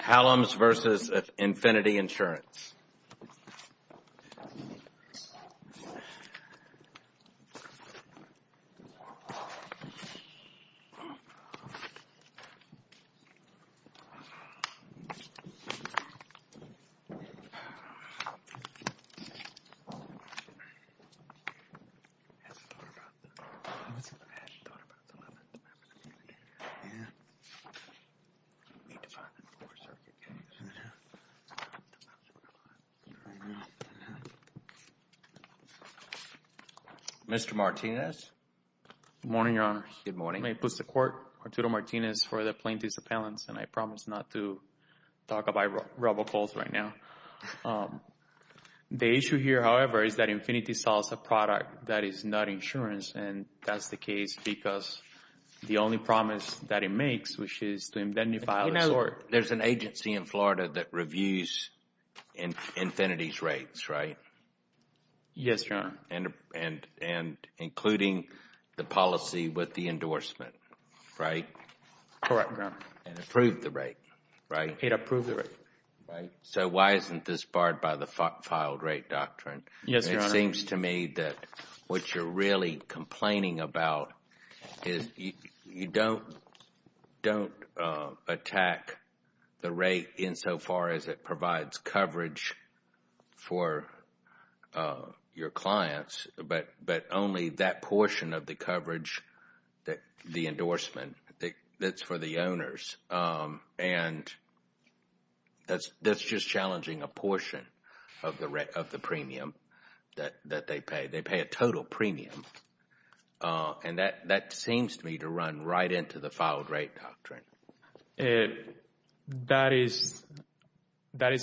Hallums v. Infinity Insurance Mr. Martinez. Good morning, Your Honor. Good morning. May it please the Court, Arturo Martinez for the plaintiffs' appellants, and I promise not to talk about rebel calls right now. The issue here, however, is that Infinity sells a product that is not insurance, and that's the case because the only promise that it makes, which is to indemnify the sort. There's an agency in Florida that reviews Infinity's rates, right? Yes, Your Honor. And including the policy with the endorsement, right? Correct, Your Honor. And approved the rate, right? It approved the rate. So why isn't this barred by the filed rate doctrine? Yes, Your Honor. It seems to me that what you're really complaining about is you don't attack the rate insofar as it provides coverage for your clients, but only that portion of the coverage, the endorsement, that's for the owners. And that's just challenging a portion of the premium that they pay. They pay a total premium, and that seems to me to run right into the filed rate doctrine. That is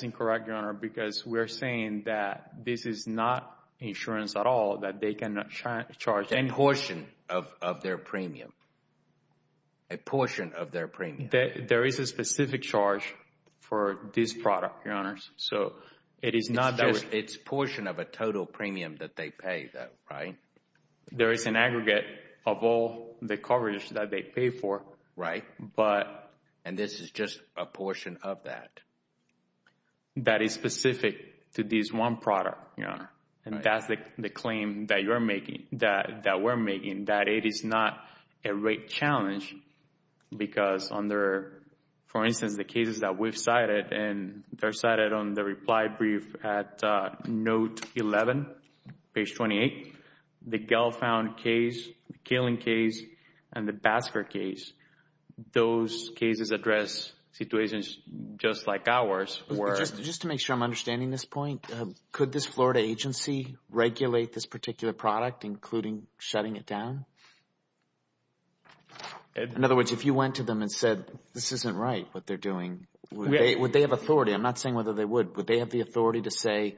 incorrect, Your Honor, because we're saying that this is not insurance at all, that they cannot charge any. A portion of their premium. A portion of their premium. There is a specific charge for this product, Your Honor. It's a portion of a total premium that they pay, right? There is an aggregate of all the coverage that they pay for. Right. And this is just a portion of that? That is specific to this one product, Your Honor. Right. And that's the claim that you're making, that we're making, that it is not a rate challenge because under, for instance, the cases that we've cited, and they're cited on the reply brief at note 11, page 28. The Gelfound case, the Kaling case, and the Basker case, those cases address situations just like ours were. Just to make sure I'm understanding this point, could this Florida agency regulate this particular product, including shutting it down? In other words, if you went to them and said, this isn't right, what they're doing, would they have authority? I'm not saying whether they would. Would they have the authority to say,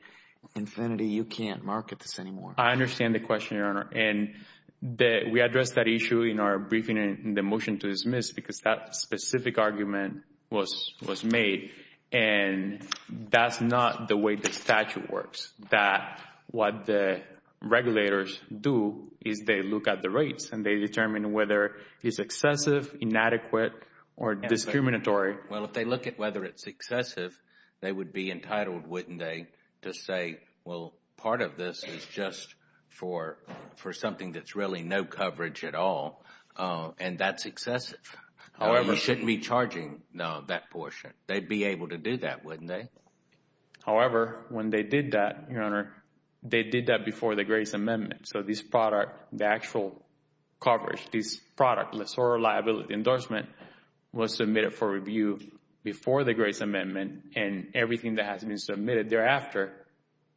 Infinity, you can't market this anymore? I understand the question, Your Honor. And we addressed that issue in our briefing in the motion to dismiss because that specific argument was made. And that's not the way the statute works, that what the regulators do is they look at the rates and they determine whether it's excessive, inadequate, or discriminatory. Well, if they look at whether it's excessive, they would be entitled, wouldn't they, to say, well, part of this is just for something that's really no coverage at all. And that's excessive. However, you shouldn't be charging that portion. They'd be able to do that, wouldn't they? However, when they did that, Your Honor, they did that before the Gray's Amendment. So this product, the actual coverage, this product, the sorority liability endorsement, was submitted for review before the Gray's Amendment. And everything that has been submitted thereafter,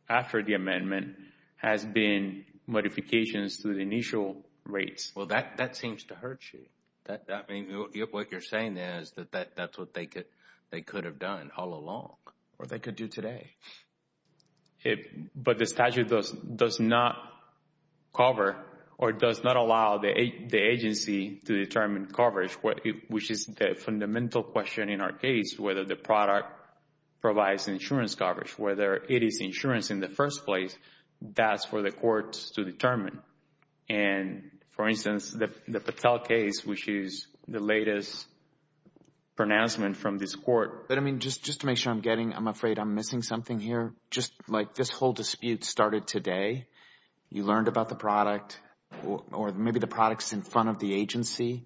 after the amendment, has been modifications to the initial rates. Well, that seems to hurt you. What you're saying is that that's what they could have done all along or they could do today. But the statute does not cover or does not allow the agency to determine coverage, which is the fundamental question in our case, whether the product provides insurance coverage, whether it is insurance in the first place. That's for the courts to determine. And, for instance, the Patel case, which is the latest pronouncement from this court. But, I mean, just to make sure I'm getting – I'm afraid I'm missing something here. Just, like, this whole dispute started today. You learned about the product or maybe the product's in front of the agency.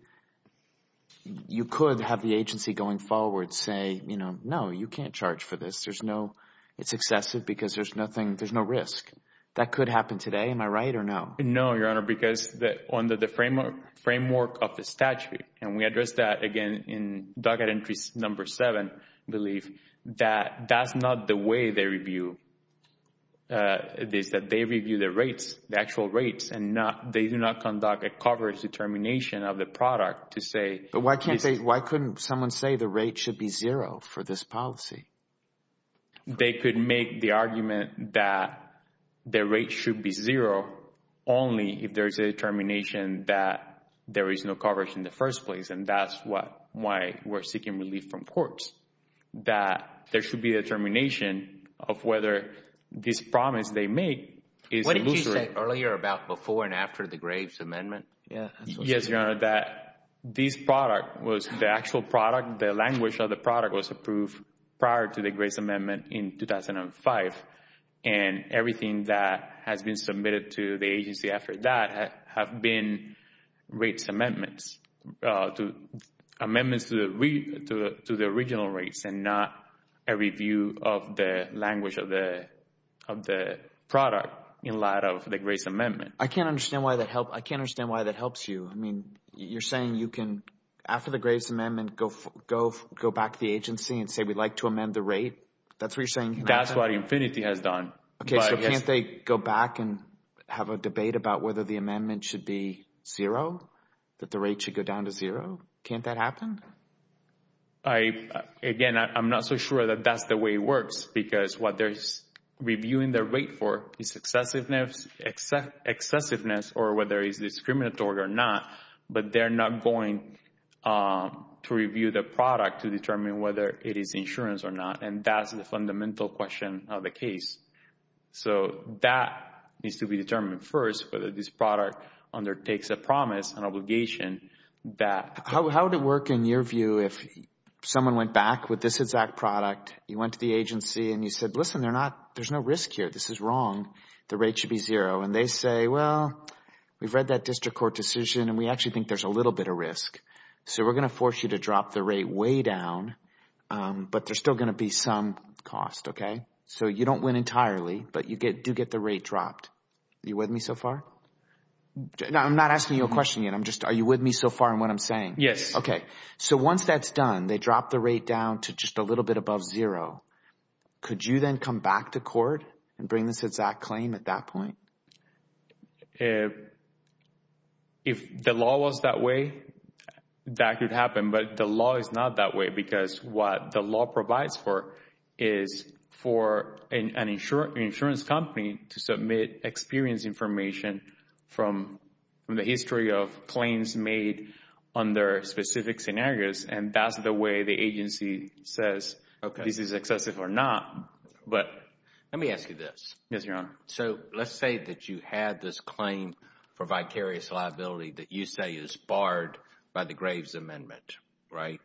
You could have the agency going forward say, you know, no, you can't charge for this. There's no – it's excessive because there's nothing – there's no risk. That could happen today. Am I right or no? No, Your Honor, because under the framework of the statute, and we addressed that, again, in docket entries number seven, I believe, that that's not the way they review this, that they review the rates, the actual rates. And they do not conduct a coverage determination of the product to say – But why can't they – why couldn't someone say the rate should be zero for this policy? They could make the argument that the rate should be zero only if there's a determination that there is no coverage in the first place, and that's why we're seeking relief from courts. That there should be a determination of whether this promise they make is illusory. What did you say earlier about before and after the Graves Amendment? Yes, Your Honor, that this product was – the actual product, the language of the product was approved prior to the Graves Amendment in 2005. And everything that has been submitted to the agency after that have been rates amendments, amendments to the original rates and not a review of the language of the product in light of the Graves Amendment. I can't understand why that helps – I can't understand why that helps you. I mean, you're saying you can, after the Graves Amendment, go back to the agency and say we'd like to amend the rate? That's what you're saying can happen? That's what Infinity has done. Okay, so can't they go back and have a debate about whether the amendment should be zero, that the rate should go down to zero? Can't that happen? Again, I'm not so sure that that's the way it works because what they're reviewing their rate for is excessiveness or whether it's discriminatory or not. But they're not going to review the product to determine whether it is insurance or not, and that's the fundamental question of the case. So that needs to be determined first, whether this product undertakes a promise, an obligation that – How would it work in your view if someone went back with this exact product, you went to the agency, and you said, listen, there's no risk here. This is wrong. The rate should be zero. And they say, well, we've read that district court decision, and we actually think there's a little bit of risk. So we're going to force you to drop the rate way down, but there's still going to be some cost. So you don't win entirely, but you do get the rate dropped. Are you with me so far? I'm not asking you a question yet. I'm just – are you with me so far in what I'm saying? Yes. Okay. So once that's done, they drop the rate down to just a little bit above zero. Could you then come back to court and bring this exact claim at that point? If the law was that way, that could happen. But the law is not that way because what the law provides for is for an insurance company to submit experience information from the history of claims made under specific scenarios, and that's the way the agency says this is excessive or not. Let me ask you this. Yes, Your Honor. So let's say that you had this claim for vicarious liability that you say is barred by the Graves Amendment, right?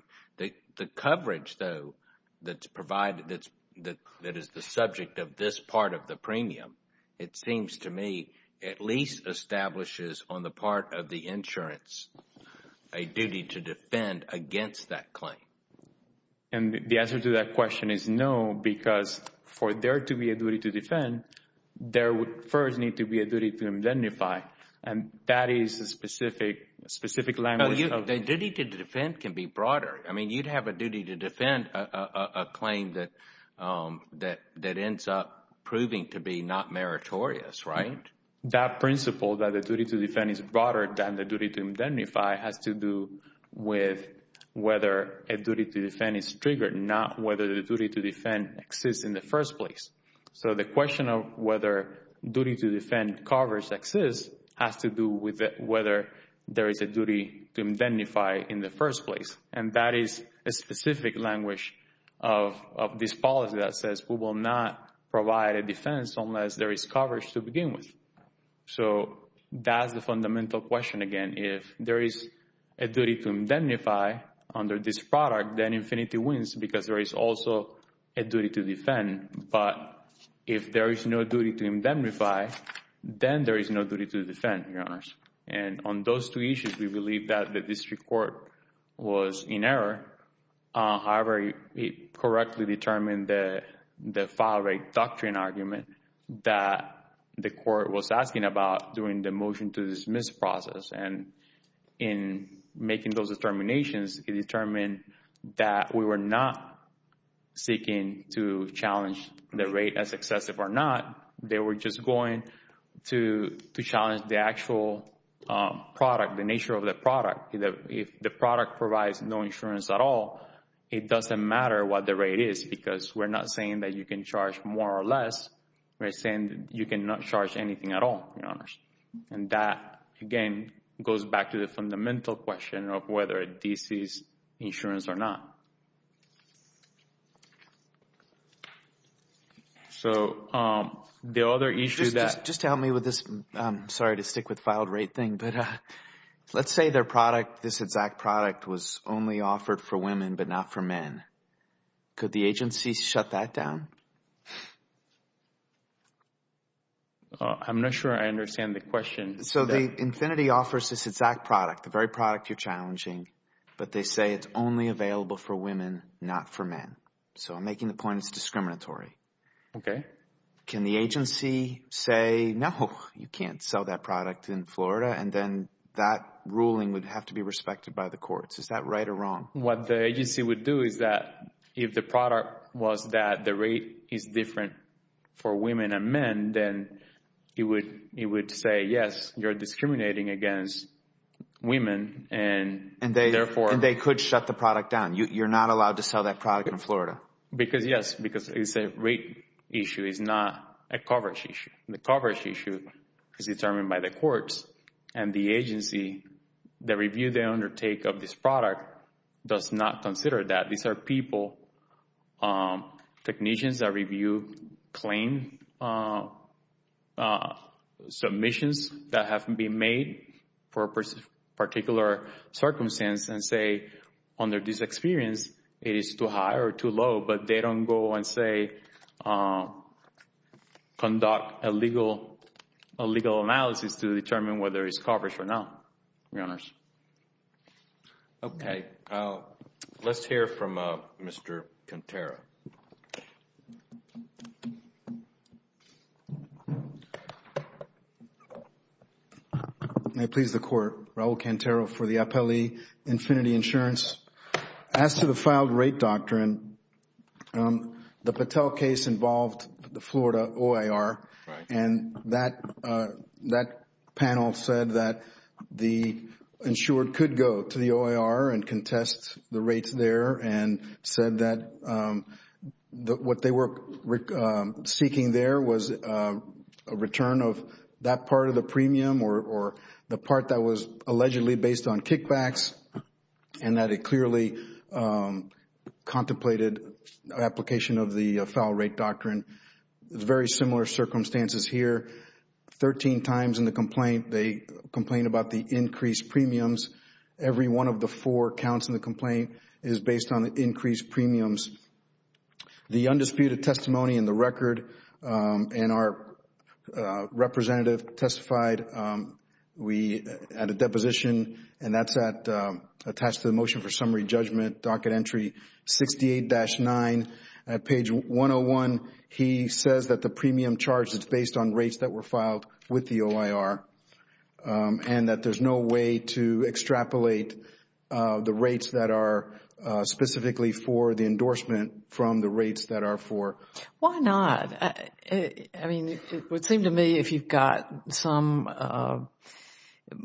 The coverage, though, that's provided that is the subject of this part of the premium, it seems to me at least establishes on the part of the insurance a duty to defend against that claim. And the answer to that question is no because for there to be a duty to defend, there would first need to be a duty to indemnify, and that is a specific language. A duty to defend can be broader. I mean you'd have a duty to defend a claim that ends up proving to be not meritorious, right? That principle that the duty to defend is broader than the duty to indemnify has to do with whether a duty to defend is triggered, not whether the duty to defend exists in the first place. So the question of whether duty to defend coverage exists has to do with whether there is a duty to indemnify in the first place, and that is a specific language of this policy that says we will not provide a defense unless there is coverage to begin with. So that's the fundamental question again. If there is a duty to indemnify under this product, then infinity wins because there is also a duty to defend, but if there is no duty to indemnify, then there is no duty to defend, Your Honors. And on those two issues, we believe that the district court was in error. However, it correctly determined the file rate doctrine argument that the court was asking about during the motion to dismiss process, and in making those determinations, it determined that we were not seeking to challenge the rate as excessive or not. They were just going to challenge the actual product, the nature of the product. If the product provides no insurance at all, it doesn't matter what the rate is because we're not saying that you can charge more or less. We're saying that you cannot charge anything at all, Your Honors. And that, again, goes back to the fundamental question of whether this is insurance or not. So the other issue that— Just to help me with this, I'm sorry to stick with the file rate thing, but let's say their product, this exact product, was only offered for women but not for men. Could the agency shut that down? I'm not sure I understand the question. So the infinity offers this exact product, the very product you're challenging, but they say it's only available for women. So I'm making the point it's discriminatory. Okay. Can the agency say, no, you can't sell that product in Florida, and then that ruling would have to be respected by the courts? Is that right or wrong? What the agency would do is that if the product was that the rate is different for women and men, then it would say, yes, you're discriminating against women, and therefore— You're not allowed to sell that product in Florida. Because, yes, because it's a rate issue. It's not a coverage issue. The coverage issue is determined by the courts, and the agency, the review they undertake of this product does not consider that. These are people, technicians that review claim submissions that have been made for a particular circumstance and say, under this experience, it is too high or too low. But they don't go and, say, conduct a legal analysis to determine whether it's coverage or not, Your Honors. Okay. Let's hear from Mr. Cantera. May it please the Court, Raul Cantera for the appellee, Infinity Insurance. As to the filed rate doctrine, the Patel case involved the Florida OIR, and that panel said that the insured could go to the OIR and contest the rates there, and said that what they were seeking there was a return of that part of the premium or the part that was allegedly based on kickbacks, and that it clearly contemplated application of the filed rate doctrine. Very similar circumstances here. Thirteen times in the complaint, they complained about the increased premiums. Every one of the four counts in the complaint is based on the increased premiums. The undisputed testimony in the record, and our representative testified at a deposition, and that's attached to the Motion for Summary Judgment, Docket Entry 68-9. At page 101, he says that the premium charge is based on rates that were filed with the OIR, and that there's no way to extrapolate the rates that are specifically for the endorsement from the rates that are for. Why not? I mean, it would seem to me if you've got some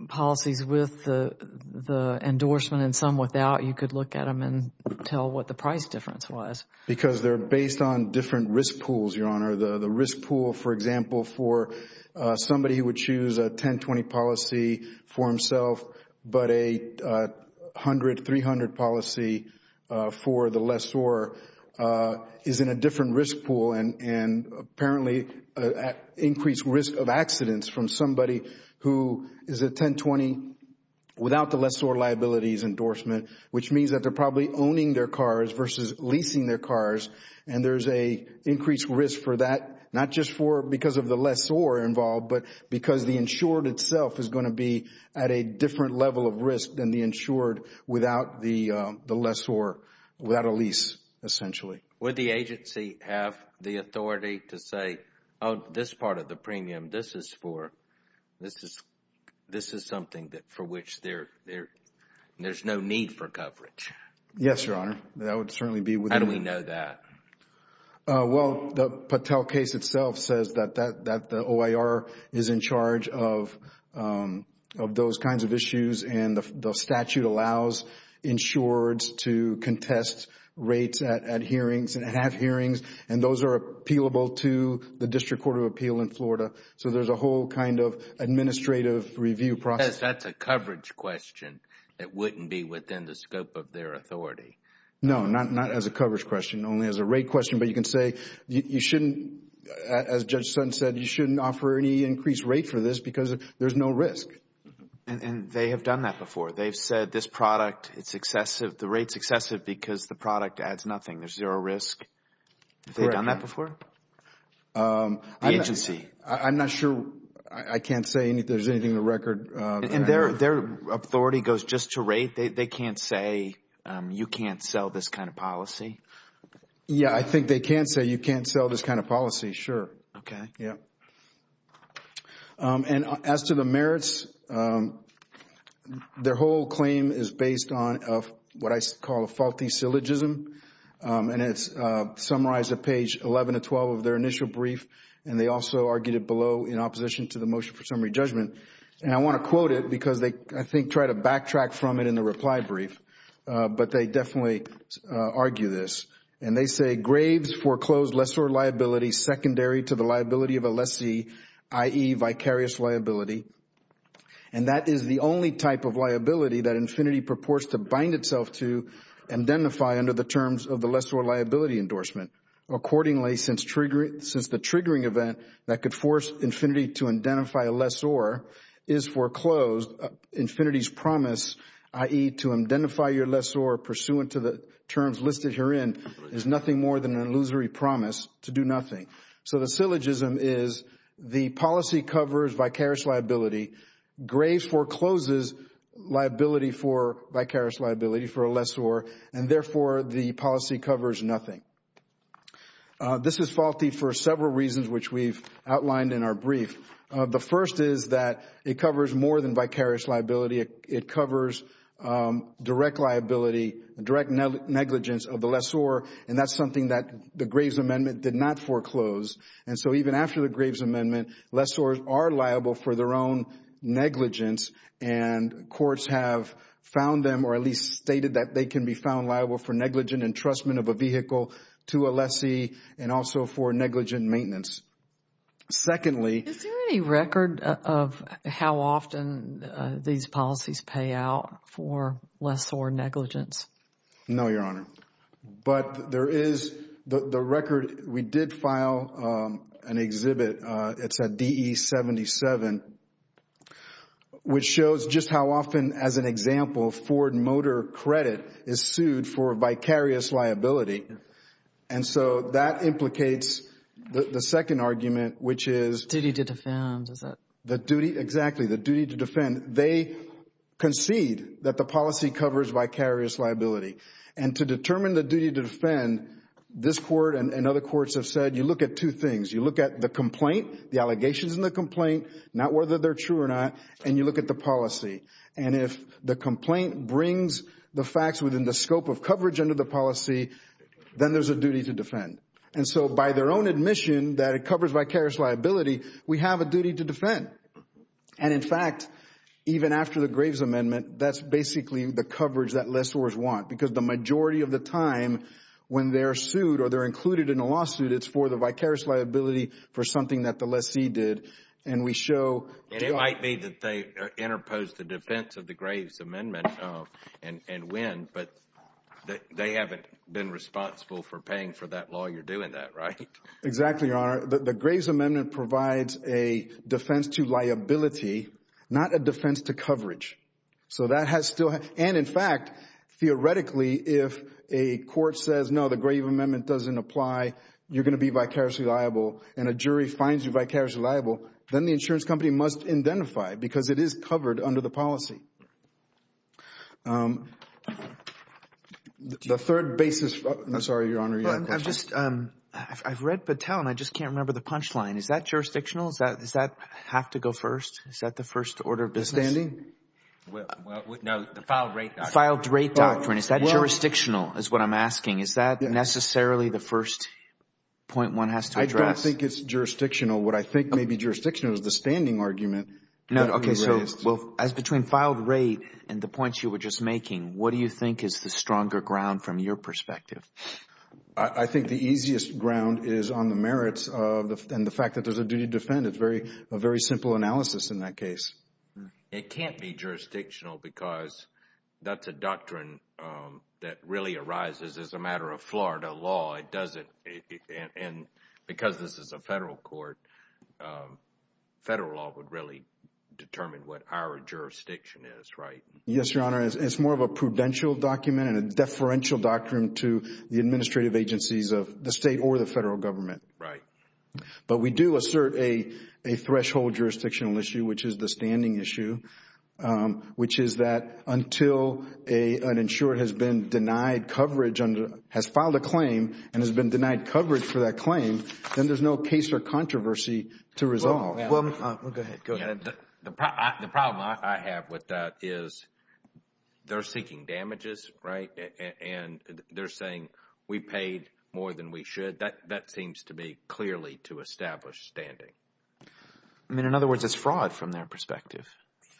policies with the endorsement and some without, you could look at them and tell what the price difference was. Because they're based on different risk pools, Your Honor. The risk pool, for example, for somebody who would choose a 10-20 policy for himself, but a 100-300 policy for the lessor is in a different risk pool, and apparently increased risk of accidents from somebody who is a 10-20 without the lessor liabilities endorsement, which means that they're probably owning their cars versus leasing their cars, and there's an increased risk for that, not just because of the lessor involved, but because the insured itself is going to be at a different level of risk than the insured without the lessor, without a lease, essentially. Would the agency have the authority to say, oh, this part of the premium, this is something for which there's no need for coverage? Yes, Your Honor. How do we know that? Well, the Patel case itself says that the OIR is in charge of those kinds of issues, and the statute allows insureds to contest rates at hearings and have hearings, and those are appealable to the District Court of Appeal in Florida, so there's a whole kind of administrative review process. That's a coverage question. It wouldn't be within the scope of their authority. No, not as a coverage question, only as a rate question, but you can say you shouldn't, as Judge Sutton said, you shouldn't offer any increased rate for this because there's no risk. And they have done that before. They've said this product, it's excessive, the rate's excessive because the product adds nothing. There's zero risk. Correct. Have they done that before, the agency? I'm not sure. I can't say there's anything in the record. And their authority goes just to rate? They can't say you can't sell this kind of policy? Yeah, I think they can say you can't sell this kind of policy, sure. Okay. Yeah. And as to the merits, their whole claim is based on what I call a faulty syllogism, and it's summarized at page 11 to 12 of their initial brief, and they also argued it below in opposition to the motion for summary judgment. And I want to quote it because they, I think, try to backtrack from it in the reply brief, but they definitely argue this. And they say, Graves foreclosed lessor liability secondary to the liability of a lessee, i.e., vicarious liability. And that is the only type of liability that Infinity purports to bind itself to and identify under the terms of the lessor liability endorsement. Accordingly, since the triggering event that could force Infinity to identify a lessor is foreclosed, Infinity's promise, i.e., to identify your lessor pursuant to the terms listed herein, is nothing more than an illusory promise to do nothing. So the syllogism is the policy covers vicarious liability. Graves forecloses liability for vicarious liability for a lessor, and therefore the policy covers nothing. This is faulty for several reasons, which we've outlined in our brief. The first is that it covers more than vicarious liability. It covers direct liability, direct negligence of the lessor, and that's something that the Graves Amendment did not foreclose. And so even after the Graves Amendment, lessors are liable for their own negligence, and courts have found them or at least stated that they can be found liable for negligent entrustment of a vehicle to a lessee and also for negligent maintenance. Secondly— Is there any record of how often these policies pay out for lessor negligence? No, Your Honor, but there is the record. We did file an exhibit. It's at DE-77, which shows just how often, as an example, Ford Motor Credit is sued for vicarious liability. And so that implicates the second argument, which is— Duty to defend, is that— Exactly, the duty to defend. They concede that the policy covers vicarious liability. And to determine the duty to defend, this Court and other courts have said you look at two things. You look at the complaint, the allegations in the complaint, not whether they're true or not, and you look at the policy. And if the complaint brings the facts within the scope of coverage under the policy, then there's a duty to defend. And so by their own admission that it covers vicarious liability, we have a duty to defend. And in fact, even after the Graves Amendment, that's basically the coverage that lessors want because the majority of the time when they're sued or they're included in a lawsuit, it's for the vicarious liability for something that the lessee did. And we show— It's in defense of the Graves Amendment and when, but they haven't been responsible for paying for that law. You're doing that, right? Exactly, Your Honor. The Graves Amendment provides a defense to liability, not a defense to coverage. So that has still—and in fact, theoretically, if a court says, no, the Graves Amendment doesn't apply, you're going to be vicariously liable, and a jury finds you vicariously liable, then the insurance company must identify because it is covered under the policy. The third basis—I'm sorry, Your Honor, you had a question. I've just—I've read Patel and I just can't remember the punchline. Is that jurisdictional? Does that have to go first? Is that the first order of business? Withstanding? No, the filed-rate doctrine. Filed-rate doctrine. Is that jurisdictional is what I'm asking. Is that necessarily the first point one has to address? I don't think it's jurisdictional. What I think may be jurisdictional is the standing argument. Okay, so as between filed-rate and the points you were just making, what do you think is the stronger ground from your perspective? I think the easiest ground is on the merits and the fact that there's a duty to defend. It's a very simple analysis in that case. It can't be jurisdictional because that's a doctrine that really arises as a matter of Florida law. It doesn't—and because this is a federal court, federal law would really determine what our jurisdiction is, right? Yes, Your Honor. It's more of a prudential document and a deferential doctrine to the administrative agencies of the state or the federal government. Right. But we do assert a threshold jurisdictional issue, which is the standing issue, which is that until an insurer has been denied coverage under—has filed a claim and has been denied coverage for that claim, then there's no case or controversy to resolve. Go ahead. The problem I have with that is they're seeking damages, right? And they're saying we paid more than we should. That seems to be clearly to establish standing. I mean, in other words, it's fraud from their perspective,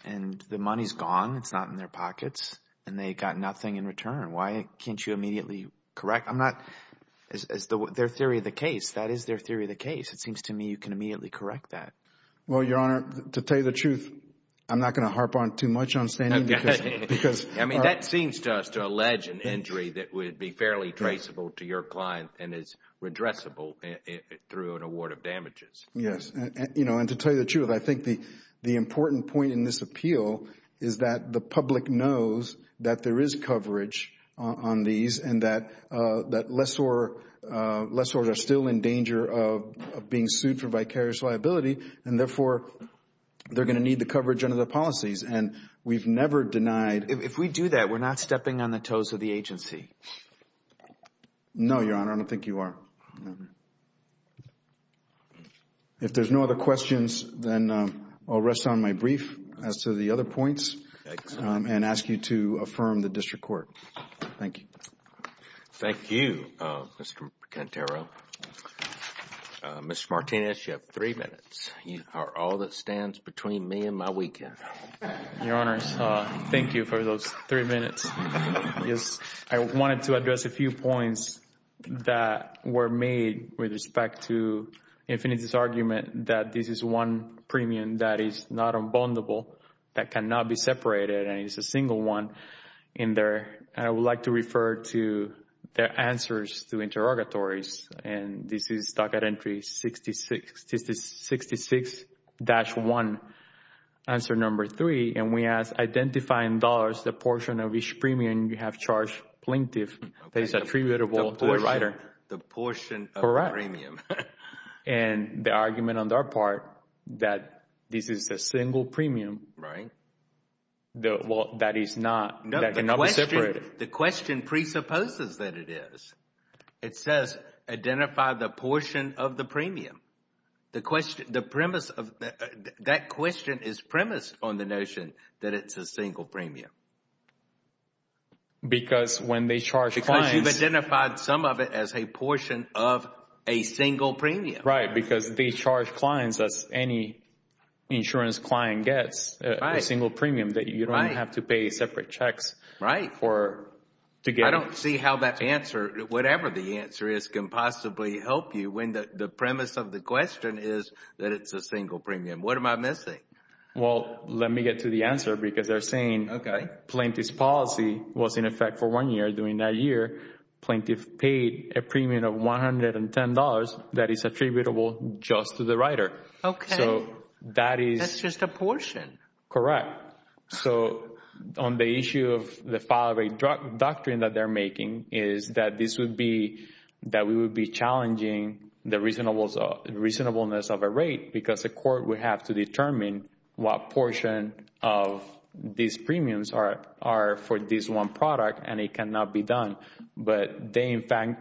and the money's gone. It's not in their pockets, and they got nothing in return. Why can't you immediately correct? I'm not—it's their theory of the case. That is their theory of the case. It seems to me you can immediately correct that. Well, Your Honor, to tell you the truth, I'm not going to harp on too much on standing because— I mean, that seems to us to allege an injury that would be fairly traceable to your client and is redressable through an award of damages. Yes, and to tell you the truth, I think the important point in this appeal is that the public knows that there is coverage on these and that lessors are still in danger of being sued for vicarious liability, and therefore they're going to need the coverage under the policies, and we've never denied— If we do that, we're not stepping on the toes of the agency. No, Your Honor, I don't think you are. If there's no other questions, then I'll rest on my brief as to the other points and ask you to affirm the district court. Thank you. Thank you, Mr. Cantero. Mr. Martinez, you have three minutes. You are all that stands between me and my weekend. Your Honor, thank you for those three minutes. I wanted to address a few points that were made with respect to Infiniti's argument that this is one premium that is not unbondable, that cannot be separated, and it's a single one, and I would like to refer to their answers to interrogatories, and this is docket entry 66-1, answer number three, and we ask identifying dollars, the portion of each premium you have charged plaintiff that is attributable to the writer. The portion of the premium. And the argument on their part that this is a single premium. Right. Well, that is not—that cannot be separated. The question presupposes that it is. It says identify the portion of the premium. The premise of—that question is premised on the notion that it's a single premium. Because when they charge clients— Because you've identified some of it as a portion of a single premium. Right, because they charge clients, as any insurance client gets, a single premium that you don't have to pay separate checks for to get it. I don't see how that answer, whatever the answer is, can possibly help you when the premise of the question is that it's a single premium. What am I missing? Well, let me get to the answer because they're saying— Okay. Plaintiff's policy was in effect for one year. During that year, plaintiff paid a premium of $110 that is attributable just to the writer. Okay. So that is— That's just a portion. Correct. So on the issue of the file rate doctrine that they're making is that this would be— that we would be challenging the reasonableness of a rate because the court would have to determine what portion of these premiums are for this one product and it cannot be done. But they,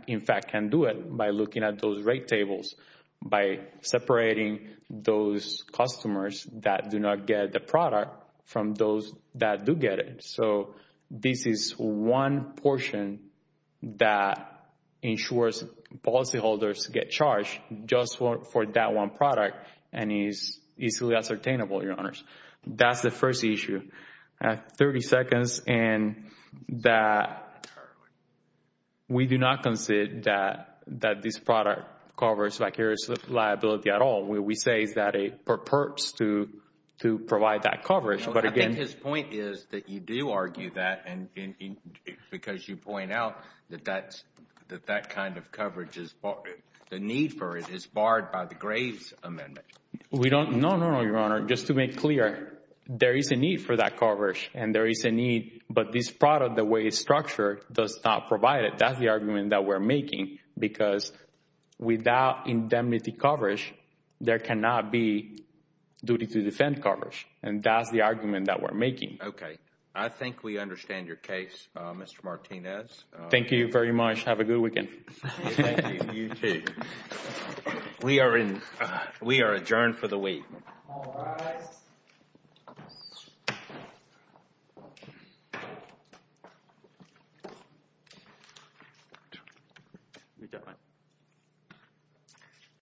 in fact, can do it by looking at those rate tables, by separating those customers that do not get the product from those that do get it. So this is one portion that ensures policyholders get charged just for that one product and is easily ascertainable, Your Honors. That's the first issue. 30 seconds. And that we do not consider that this product covers vicarious liability at all. What we say is that it purports to provide that coverage. But again— I think his point is that you do argue that because you point out that that kind of coverage is— the need for it is barred by the Graves Amendment. No, no, no, Your Honor. Just to make clear, there is a need for that coverage and there is a need. But this product, the way it's structured, does not provide it. That's the argument that we're making because without indemnity coverage, there cannot be duty to defend coverage. And that's the argument that we're making. Okay. I think we understand your case, Mr. Martinez. Thank you very much. Have a good weekend. Thank you. You too. We are adjourned for the week. All rise.